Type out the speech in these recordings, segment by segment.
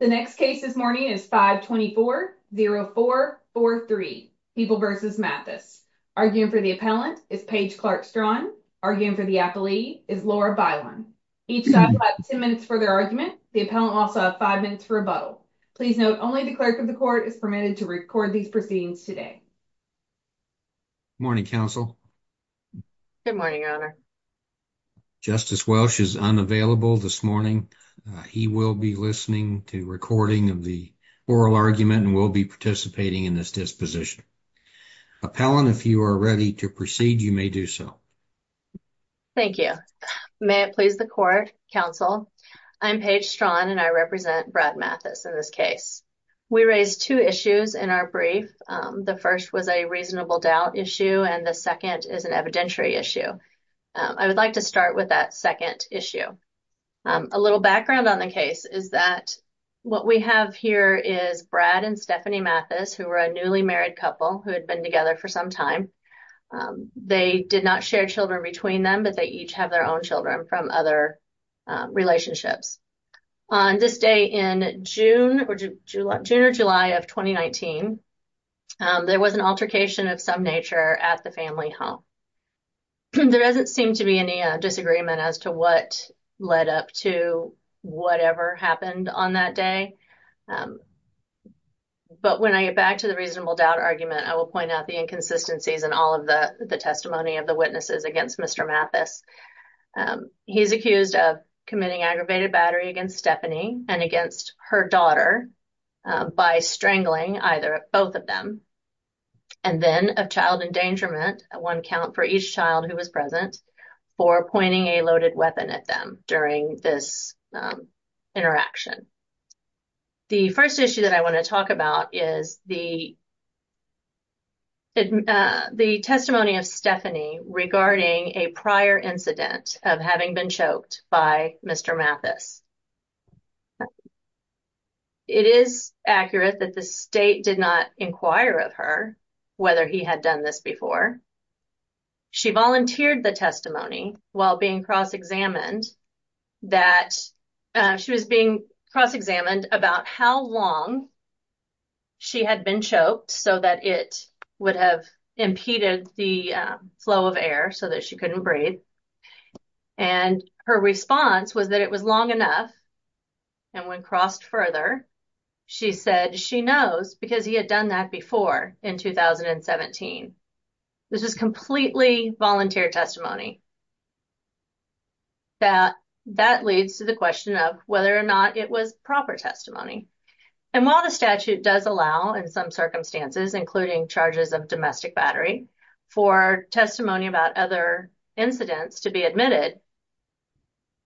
The next case this morning is 524-0443, People v. Mathus. Arguing for the appellant is Paige Clark-Straughn. Arguing for the appelee is Laura Bilen. Each side will have 10 minutes for their argument. The appellant will also have five minutes for rebuttal. Please note, only the clerk of the court is permitted to record these proceedings today. Good morning, counsel. Good morning, Your Honor. Justice Welsh is unavailable this morning. He will be listening to recording of the oral argument and will be participating in this disposition. Appellant, if you are ready to proceed, you may do so. Thank you. May it please the court, counsel. I'm Paige Straughn, and I represent Brad Mathus in this case. We raised two issues in our brief. The first was a reasonable doubt issue, and the second is an evidentiary issue. I would like to start with that second issue. A little background on the case is that what we have here is Brad and Stephanie Mathus, who were a newly married couple who had been together for some time. They did not share children between them, but they each have their own children from other relationships. On this day in June or July of 2019, there was an altercation of some nature at the family home. There doesn't seem to be any disagreement as to what led up to whatever happened on that day. But when I get back to the reasonable doubt argument, I will point out the inconsistencies in all of the testimony of the witnesses against Mr. Mathus. He's accused of committing aggravated battery against Stephanie and against her daughter by strangling either or both of them, and then of child endangerment, one count for each child who was present, for pointing a loaded weapon at them during this interaction. The first issue that I want to talk about is the testimony of Stephanie regarding a prior incident of having been choked by Mr. Mathus. It is accurate that the state did not inquire of her whether he had done this before. She volunteered the testimony while being cross-examined that she was being cross-examined about how long she had been choked so that it would have impeded the flow of air so that she couldn't breathe. And her response was that it was long enough, and when crossed further, she said she knows because he had done that before in 2017. This is completely volunteer testimony. That leads to the question of whether or not it was proper testimony. And while the statute does allow, in some circumstances, including charges of domestic battery, for testimony about other incidents to be admitted,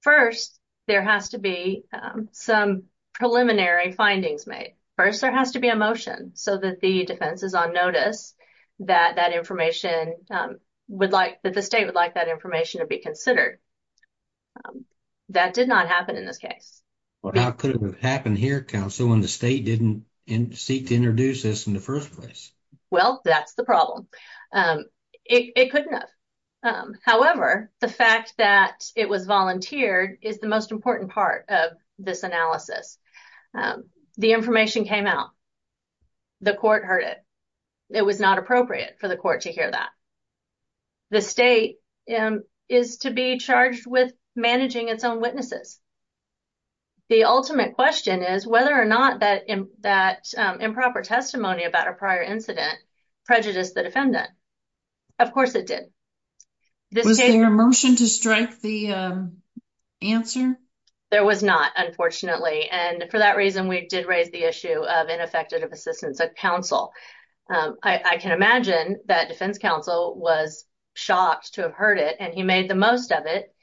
first, there has to be some preliminary findings made. First, there has to be a motion so that the defense is on notice that the state would like that information to be considered. That did not happen in this case. Well, how could it have happened here, counsel, when the state didn't seek to introduce this in the first place? Well, that's the problem. It couldn't have. However, the fact that it was volunteered is the most important part of this analysis. The information came out. The court heard it. It was not appropriate for the court to hear that. The state is to be charged with managing its own witnesses. The ultimate question is whether or not that improper testimony about a prior incident prejudiced the defendant. Of course it did. Was there a motion to strike the answer? There was not, unfortunately, and for that reason, we did raise the issue of ineffective assistance of counsel. I can imagine that defense counsel was shocked to have heard it, and he made the most of it.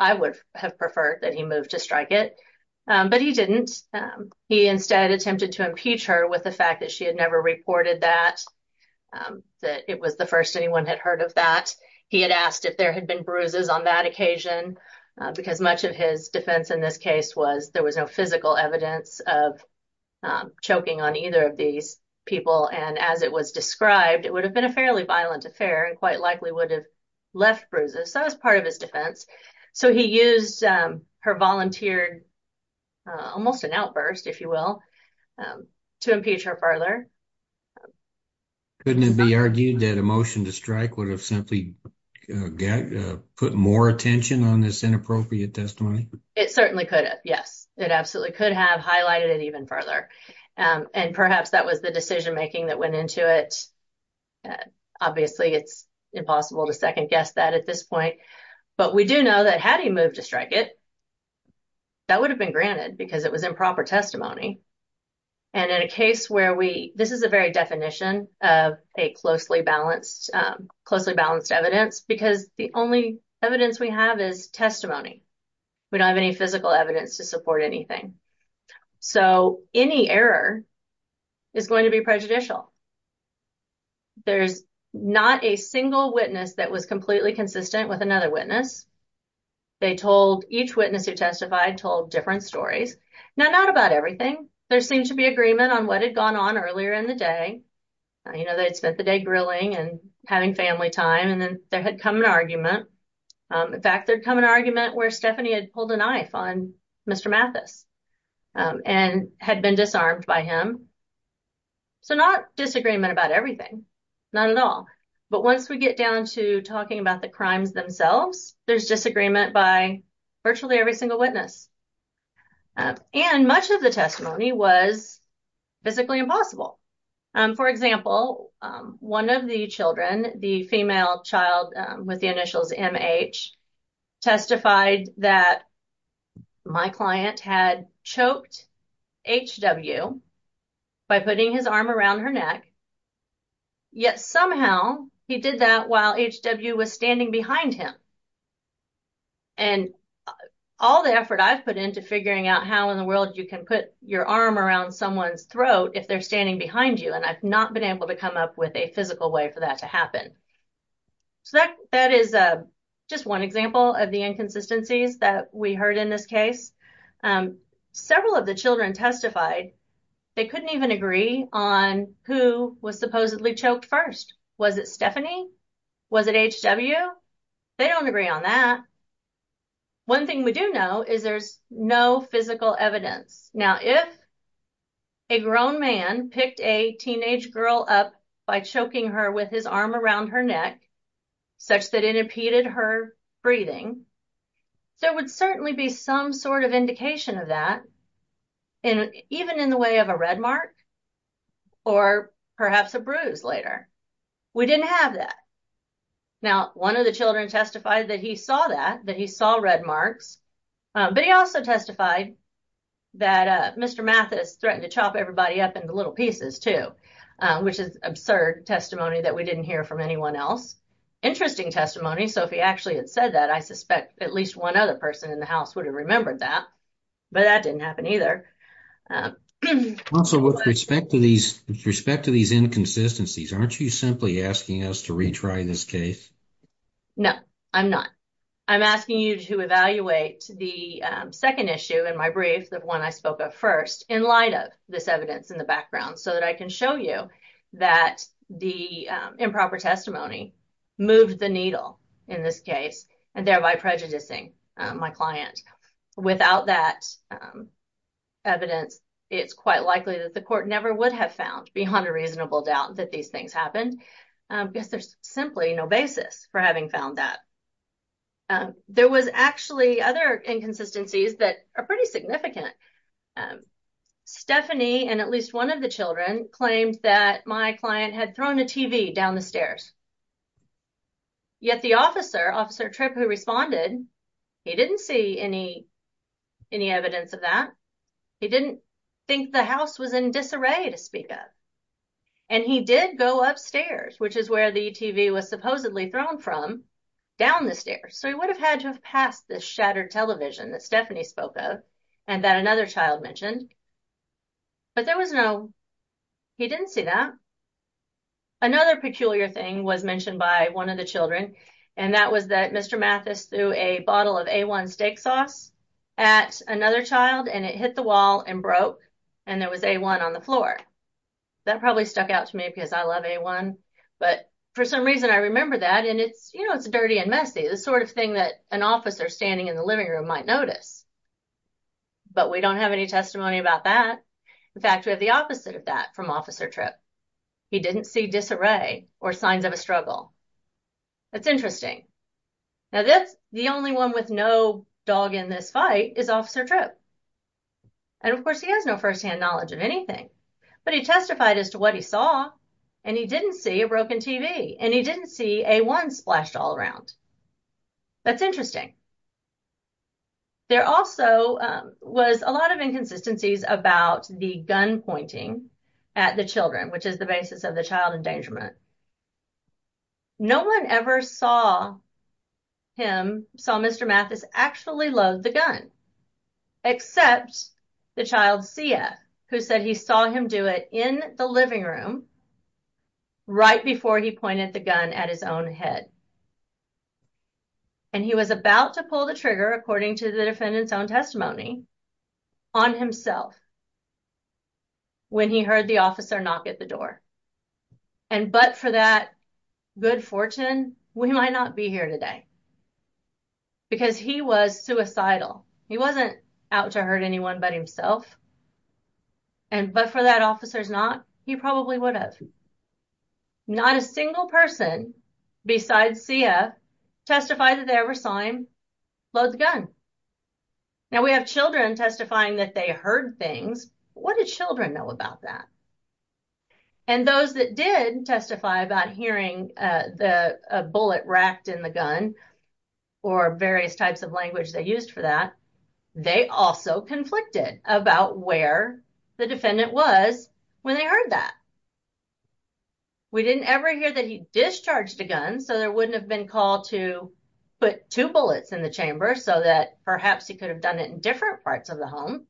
I would have preferred that he moved to strike it, but he didn't. He instead attempted to impeach her with the fact that she had never reported that, that it was the first anyone had heard of that. He had asked if there had been bruises on that occasion, because much of his defense in this case was there was no physical evidence of choking on either of these people, and as it was described, it would have been a fairly violent affair and quite likely would have left bruises. That was part of his defense. So he used her volunteered, almost an outburst, if you will, to impeach her further. Couldn't it be argued that a motion to strike would have simply put more attention on this inappropriate testimony? It certainly could have, yes. It absolutely could have highlighted it even further, and perhaps that was the decision-making that went into it. Obviously, it's impossible to second-guess that at this point, but we do know that had he moved to strike it, that would have been granted, because it was improper testimony, and in a case where we, this is a very definition of a closely balanced evidence, because the only evidence we have is testimony. We don't have any physical evidence to support anything. So any error is going to be prejudicial. There's not a single witness that was completely consistent with another witness. They told, each witness who testified told different stories. Now, not about everything. There seemed to be agreement on what had gone on earlier in the day. You know, they'd spent the day grilling and having family time, and then there had come an argument. In fact, there'd come an argument where Stephanie had pulled a knife on Mr. Mathis and had been disarmed by him. So not disagreement about everything, not at all. But once we get down to talking about the crimes themselves, there's disagreement by virtually every single witness. And much of the testimony was physically impossible. For example, one of the children, the female child with the initials MH, testified that my client had choked HW by putting his arm around her neck, yet somehow he did that while HW was standing behind him. And all the effort I've put into figuring out how in the world you can put your arm around someone's throat if they're standing behind you, and I've not been able to come up with a physical way for that to happen. So that is just one example of the inconsistencies that we heard in this case. Several of the children testified they couldn't even agree on who was supposedly choked first. Was it Stephanie? Was it HW? They don't agree on that. One thing we do know is there's no physical evidence. Now, if a grown man picked a teenage girl up by choking her with his arm around her neck, such that it impeded her breathing, there would certainly be some sort of indication of that, even in the way of a red mark or perhaps a bruise later. We didn't have that. Now, one of the children testified that he saw that, that he saw red marks, but he also testified that Mr. Mathis threatened to chop everybody up into little pieces, too, which is absurd testimony that we didn't hear from anyone else. Interesting testimony, so if he actually had said that, I suspect at least one other person in the house would have remembered that, but that didn't happen either. Also, with respect to these inconsistencies, aren't you simply asking us to retry this case? No, I'm not. I'm asking you to evaluate the second issue in my brief, the one I spoke of first, in light of this evidence in the background, so that I can show you that the improper testimony moved the needle in this case, and thereby prejudicing my client. Without that evidence, it's quite likely that the court never would have found, beyond a reasonable doubt, that these things happened, because there's simply no basis for having found that. There was actually other inconsistencies that are pretty significant. Stephanie and at least one of the children claimed that my client had thrown a TV down the stairs, yet the officer, Officer Tripp, who responded, he didn't see any evidence of that. He didn't think the house was in disarray to speak of, and he did go upstairs, which is where the TV was supposedly thrown from, down the stairs. So, he would have had to have passed this shattered television that Stephanie spoke of, and that another child mentioned, but there was no, he didn't see that. Another peculiar thing was mentioned by one of the children, and that was that Mr. Mathis threw a bottle of A1 steak sauce at another child, and it hit the wall and broke, and there was A1 on the floor. That probably stuck out to me because I love A1, but for some reason I remember that, and it's, you know, it's dirty and messy, the sort of thing that an officer standing in the living room might notice, but we don't have any testimony about that. In fact, we have the opposite of that from Officer Tripp. He didn't see disarray or signs of a struggle. That's interesting. Now, that's the only one with no dog in this fight is Officer Tripp, and of course he has no first-hand knowledge of anything, but he testified as to what he saw, and he didn't see a broken TV, and he didn't see A1 splashed all around. That's interesting. There also was a lot of inconsistencies about the gun pointing at the children, which is the basis of the child endangerment. No one ever saw him, saw Mr. Mathis actually load the gun, except the child's CF, who said he saw him do it in the living room right before he pointed the gun at his own head, and he was about to pull the trigger, according to the defendant's own testimony, on himself when he heard the officer knock at the door, and but for that good fortune, we might not be here today because he was suicidal. He wasn't out to hurt anyone but himself, and but for that officer's knock, he probably would have. Not a single person besides CF testified that they ever saw him load the gun. Now, we have children testifying that they heard things, but what did children know about that? And those that did testify about hearing a bullet racked in the gun or various types of language they used for that, they also conflicted about where the defendant was when they heard that. We didn't ever hear that he discharged the gun, so there wouldn't have been called to put two bullets in the chamber so that perhaps he could have done it in different parts of the home.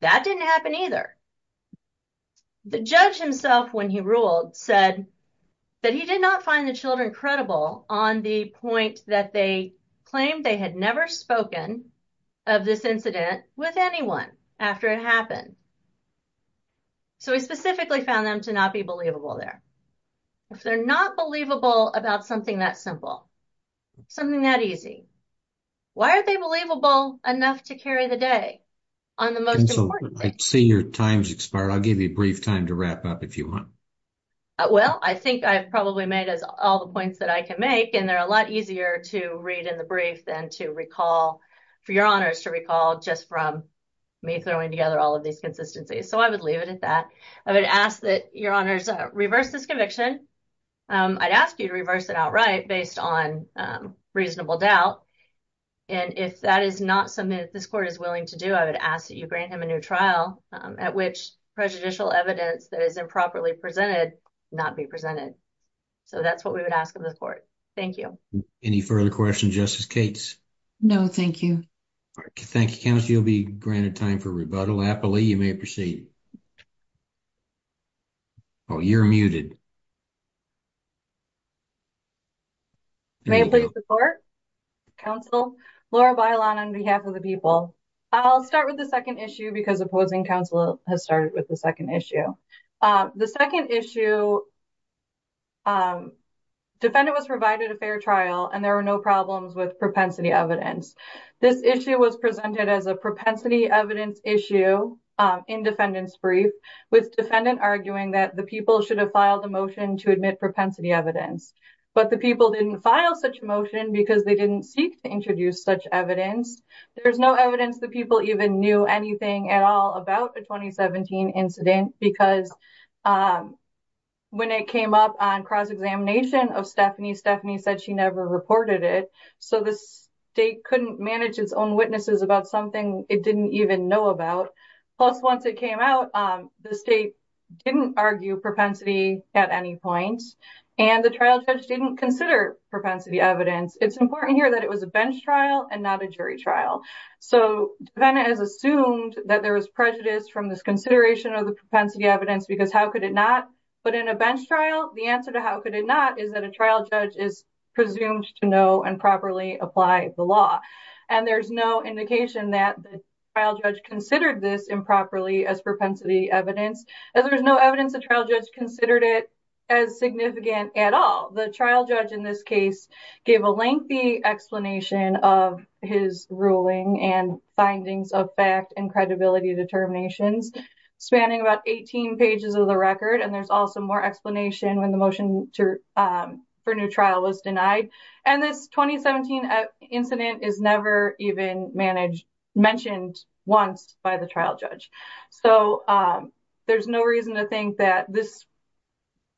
That didn't happen either. The judge himself, when he ruled, said that he did not find the children credible on the point that they claimed they had never spoken of this incident with anyone after it happened, so he specifically found them to not be believable there. If they're not believable about something that simple, something that easy, why are they believable enough to carry the day on the most important thing? I see your time's expired. I'll give you a brief time to wrap up if you want. Well, I think I've probably made all the points that I can make, and they're a lot easier to read in the brief than to recall, for your honors to recall just from me throwing together all of these consistencies, so I would leave it at that. I would ask that your honors reverse this conviction. I'd ask you to reverse it outright based on reasonable doubt, and if that is not something that this court is willing to do, I would ask that you grant him a new trial at which prejudicial evidence that is improperly presented not be presented. So, that's what we would ask of this court. Thank you. Any further questions, Justice Cates? No, thank you. Thank you, counsel. You'll be granted time for rebuttal. Happily, you may proceed. Oh, you're muted. May I please report, counsel? Laura Bailon on behalf of the people. I'll start with the second issue because opposing counsel has started with the second issue. The second issue, defendant was provided a fair trial, and there were no problems with propensity evidence. This issue was presented as a propensity evidence issue in defendant's brief, with defendant arguing that the people should have filed a motion to admit propensity evidence, but the people didn't file such a motion because they didn't seek to introduce such evidence. There's no evidence the people even knew anything at all about the 2017 incident because when it came up on cross-examination of Stephanie, Stephanie said she never reported it, so the state couldn't manage its own witnesses about something it didn't even know about. Plus, once it came out, the state didn't argue propensity at any point, and the trial judge didn't consider propensity evidence. It's important here that it was a bench trial and not a jury trial. So defendant has assumed that there was prejudice from this consideration of the propensity evidence because how could it not? But in a bench trial, the answer to how could it not is that a trial judge is presumed to know and properly apply the law. And there's no indication that the trial judge considered this improperly as propensity evidence, as there's no evidence the trial judge considered it as significant at all. The trial judge in this case gave a lengthy explanation of his ruling and findings of fact and credibility determinations, spanning about 18 pages of the record, and there's also more explanation when the motion for new trial was denied. And this 2017 incident is never even mentioned once by the trial judge. So there's no reason to think that this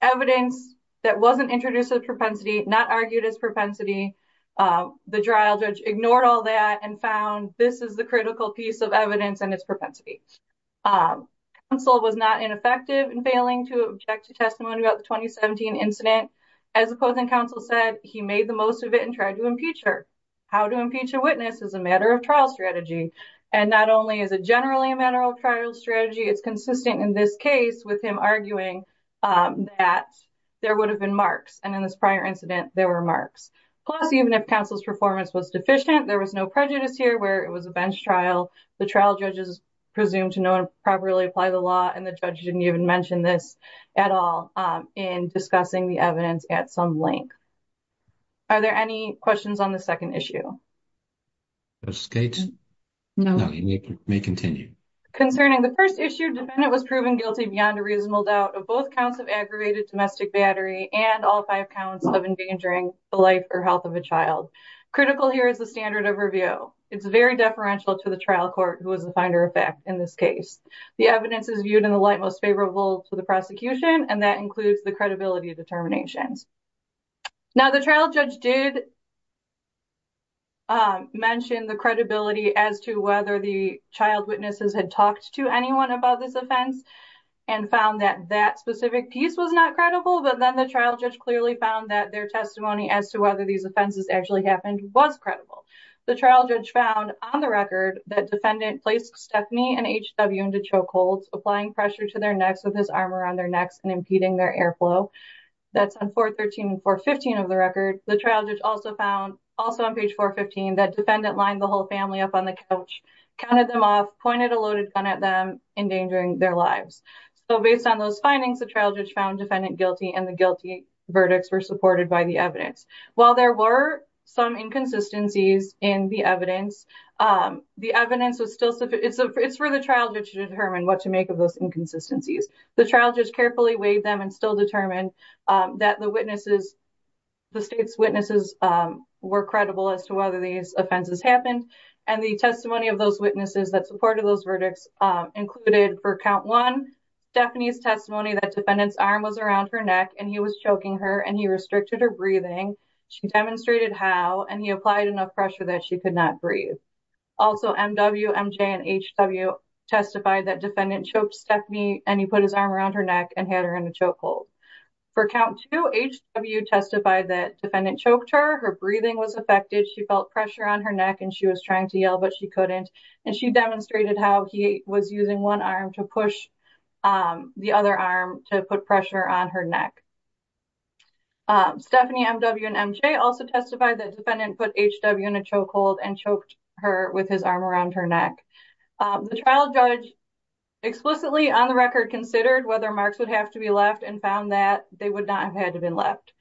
evidence that wasn't introduced as propensity, not argued as propensity, the trial judge ignored all that and found this is the critical piece of evidence and its propensity. Counsel was not ineffective in failing to object to testimony about the 2017 incident. As the closing counsel said, he made the most of it and tried to impeach her. How to impeach a witness is a matter of trial strategy. And not only is it generally a matter of trial strategy, it's consistent in this case with him arguing that there would have been marks. And in this prior incident, there were marks. Plus, even if counsel's performance was deficient, there was no prejudice here where it was a bench trial. The trial judge is presumed to know and properly apply the law and the judge didn't even mention this at all in discussing the evidence at some length. Are there any questions on the second issue? Judge Skates? No. You may continue. Concerning the first issue, defendant was proven guilty beyond a reasonable doubt of both counts of aggravated domestic battery and all five counts of endangering the life or health of a child. Critical here is the standard of review. It's very deferential to the trial court who was the finder of fact in this case. The evidence is viewed in the light most favorable to the prosecution and that includes the credibility determinations. Now, the trial judge did mention the credibility as to whether the child witnesses had talked to anyone about this offense and found that that specific piece was not credible. But then the trial judge clearly found that their testimony as to whether these offenses actually happened was credible. The trial judge found on the record that defendant placed Stephanie and HW into chokeholds, applying pressure to their necks with his arm around their necks and impeding their airflow. That's on 413 and 415 of the record. The trial judge also found also on page 415 that defendant lined the whole family up on the couch, counted them off, pointed a loaded gun at them, endangering their lives. So based on those findings, the trial judge found defendant guilty and the guilty verdicts were supported by the evidence. While there were some inconsistencies in the evidence, the evidence was still, it's for the trial judge to determine what to make of those inconsistencies. The trial judge carefully weighed them and still determined that the witnesses, the state's witnesses were credible as to whether these offenses happened. And the testimony of those witnesses that supported those verdicts included for count one, Stephanie's testimony that defendant's arm was around her neck and he was choking her and he restricted her breathing. She demonstrated how and he applied enough pressure that she could not breathe. Also MW, MJ and HW testified that defendant choked Stephanie and he put his arm around her neck and had her in a chokehold. For count two, HW testified that defendant choked her, her breathing was affected, she felt pressure on her neck and she was trying to yell, but she couldn't. And she demonstrated how he was using one arm to push the other arm to put pressure on her neck. Stephanie, MW and MJ also testified that defendant put HW in a chokehold and choked her with his arm around her neck. The trial judge explicitly on the record considered whether marks would have to be left and found that they would not have had to been left.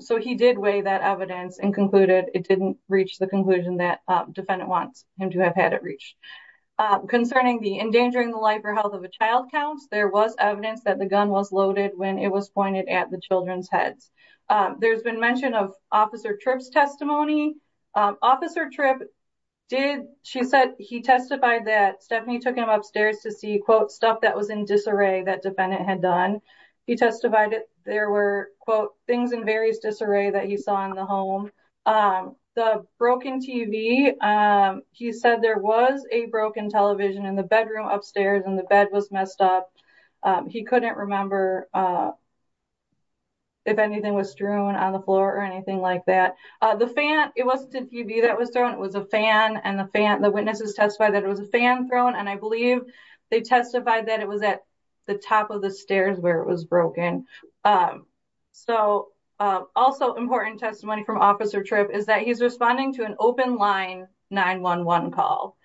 So he did weigh that evidence and concluded it didn't reach the conclusion that defendant wants him to have had it reached. Concerning the endangering the life or health of a child counts, there was evidence that the gun was loaded when it was pointed at the children's heads. There's been mention of Officer Tripp's testimony. Officer Tripp did, she said he testified that Stephanie took him upstairs to see quote stuff that was in disarray that defendant had done. He testified that there were quote things in various disarray that he saw in the home. The broken TV, he said there was a broken television in the bedroom upstairs and the bed was messed up. He couldn't remember if anything was strewn on the floor or anything like that. The fan, it wasn't a TV that was thrown, it was a fan. And the witnesses testified that it was a fan thrown. And I believe they testified that it was at the top of the stairs where it was broken. So also important testimony from Officer Tripp is that he's responding to an open line 911 call.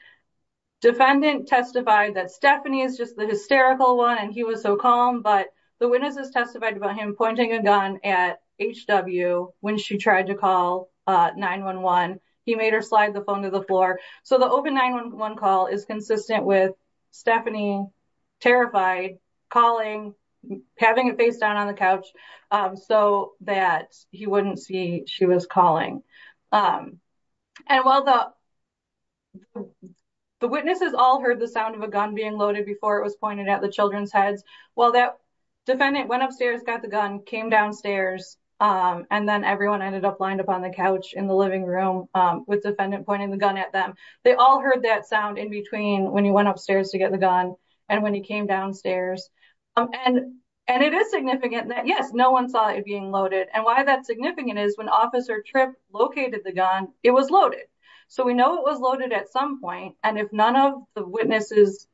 Defendant testified that Stephanie is just the hysterical one and he was so calm, but the witnesses testified about him pointing a gun at HW when she tried to call 911. He made her slide the phone to the floor. So the open 911 call is consistent with Stephanie terrified, calling, having a face down on the couch so that he wouldn't see she was calling. And while the witnesses all heard the sound of a gun being loaded before it was pointed at the children's heads, while that defendant went upstairs, got the gun, came downstairs, and then everyone ended up lined up on the couch in the living room with defendant pointing the gun at them. They all heard that sound in between when he went upstairs to get the gun and when he came downstairs. And it is significant that yes, no one saw it being loaded. And why that's significant is when Officer Tripp located the gun, it was loaded. So we know it was loaded at some point. And if none of the witnesses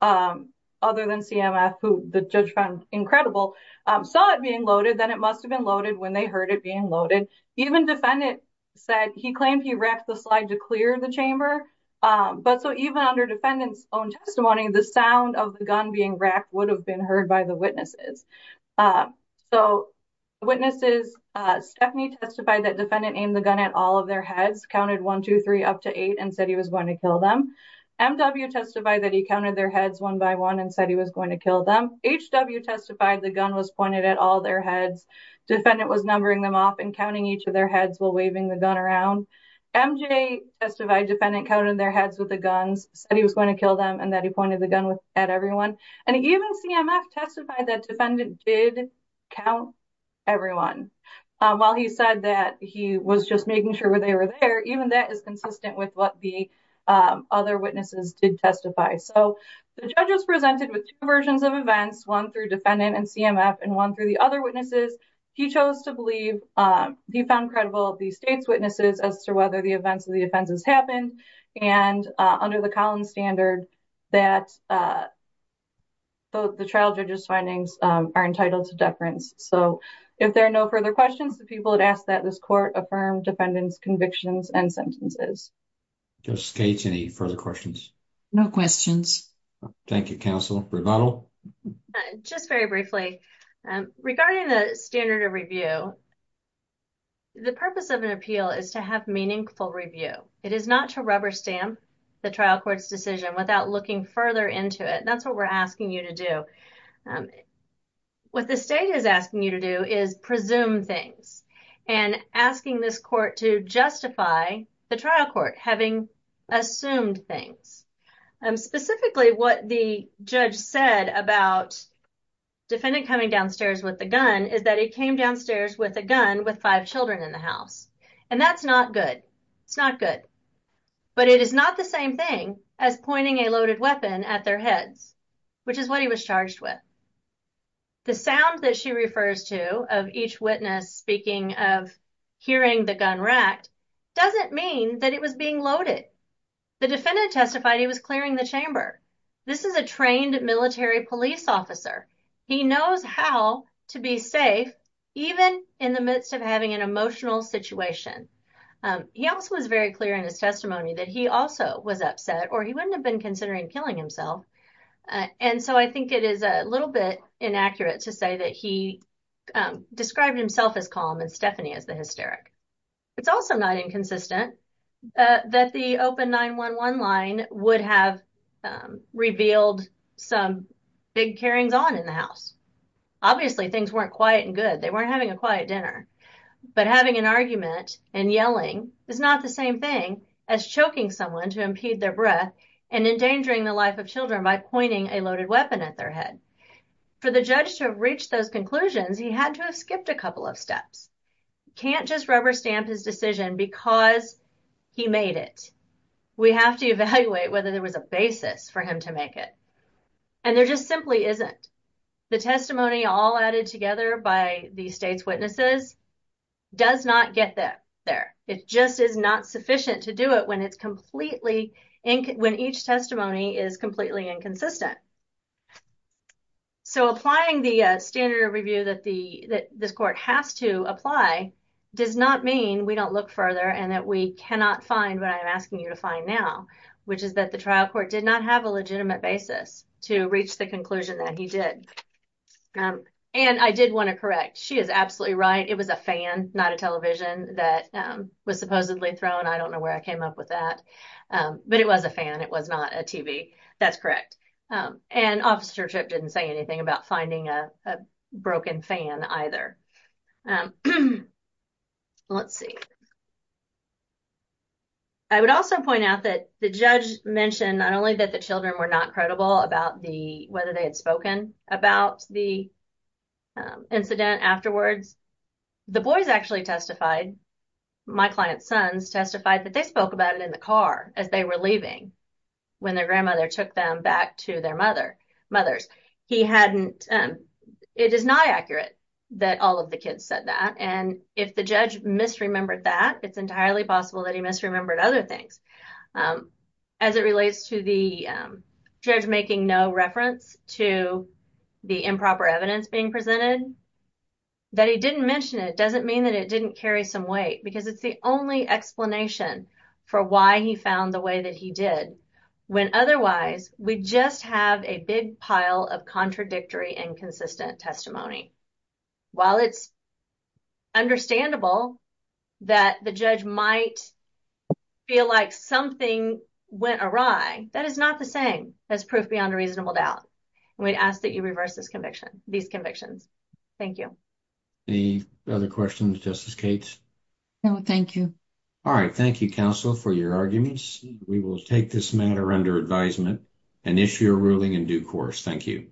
other than CMF, who the judge found incredible, saw it being loaded, then it must have been loaded when they heard it being loaded. Even defendant said he claimed he racked the slide to clear the chamber. But so even under defendant's own testimony, the sound of the gun being racked would have been heard by the witnesses. So witnesses, Stephanie testified that defendant aimed the gun at all of their heads, counted one, two, three, up to eight, and said he was going to kill them. M.W. testified that he counted their heads one by one and said he was going to kill them. H.W. testified the gun was pointed at all their heads. Defendant was numbering them off and counting each of their heads while waving the gun around. M.J. testified defendant counted their heads with the guns, said he was going to kill them, and that he pointed the gun at everyone. And even CMF testified that defendant did count everyone. While he said that he was just making sure they were there, even that is consistent with what the other witnesses did testify. So the judge was presented with two versions of events, one through defendant and CMF and one through the other witnesses. He chose to believe, he found credible the state's witnesses as to whether the events of the offenses happened. And under the Collins standard, that the trial judge's findings are entitled to deference. So if there are no further questions, the people had asked that this court affirm defendant's convictions and sentences. Judge Skates, any further questions? No questions. Thank you, counsel. Rebuttal? Just very briefly. Regarding the standard of review, the purpose of an appeal is to have meaningful review. It is not to rubber stamp the trial court's decision without looking further into it. That's what we're asking you to do. What the state is asking you to do is presume things. And asking this court to justify the trial court having assumed things. Specifically, what the judge said about defendant coming downstairs with the gun is that he came downstairs with a gun with five children in the house. And that's not good. It's not good. But it is not the same thing as pointing a loaded weapon at their heads, which is what he was charged with. The sound that she refers to of each witness speaking of hearing the gun racked doesn't mean that it was being loaded. The defendant testified he was clearing the chamber. This is a trained military police officer. He knows how to be safe even in the midst of having an emotional situation. He also was very clear in his testimony that he also was upset or he wouldn't have been considering killing himself. And so I think it is a little bit inaccurate to say that he described himself as calm and Stephanie as the hysteric. It's also not inconsistent that the open 9-1-1 line would have revealed some big carryings on in the house. Obviously, things weren't quiet and good. They weren't having a quiet dinner. But having an argument and yelling is not the same thing as choking someone to impede their breath and endangering the life of children by pointing a loaded weapon at their head. For the judge to have reached those conclusions, he had to have skipped a couple of steps. Can't just rubber stamp his decision because he made it. We have to evaluate whether there was a basis for him to make it. And there just simply isn't. The testimony all added together by the state's witnesses does not get there. It just is not sufficient to do it when each testimony is completely inconsistent. So applying the standard of review that this court has to apply does not mean we don't look further and that we cannot find what I'm asking you to find now, which is that the trial court did not have a legitimate basis to reach the conclusion that he did. And I did want to correct. She is absolutely right. It was a fan, not a television that was supposedly thrown. I don't know where I came up with that. But it was a fan. It was not a TV. That's correct. And Officer Tripp didn't say anything about finding a broken fan either. Let's see. I would also point out that the judge mentioned not only that the children were not credible about whether they had spoken about the incident afterwards. The boys actually testified. My client's sons testified that they spoke about it in the car as they were leaving when their grandmother took them back to their mothers. He hadn't. It is not accurate that all of the kids said that. And if the judge misremembered that, it's entirely possible that he misremembered other things. As it relates to the judge making no reference to the improper evidence being presented, that he didn't mention it doesn't mean that it didn't carry some weight because it's the only explanation for why he found the way that he did. When otherwise, we just have a big pile of contradictory and consistent testimony. While it's understandable that the judge might feel like something went awry, that is not the same. That's proof beyond a reasonable doubt. And we'd ask that you reverse this conviction, these convictions. Thank you. Any other questions, Justice Cates? No, thank you. All right. Thank you, counsel, for your arguments. We will take this matter under advisement and issue a ruling in due course. Thank you.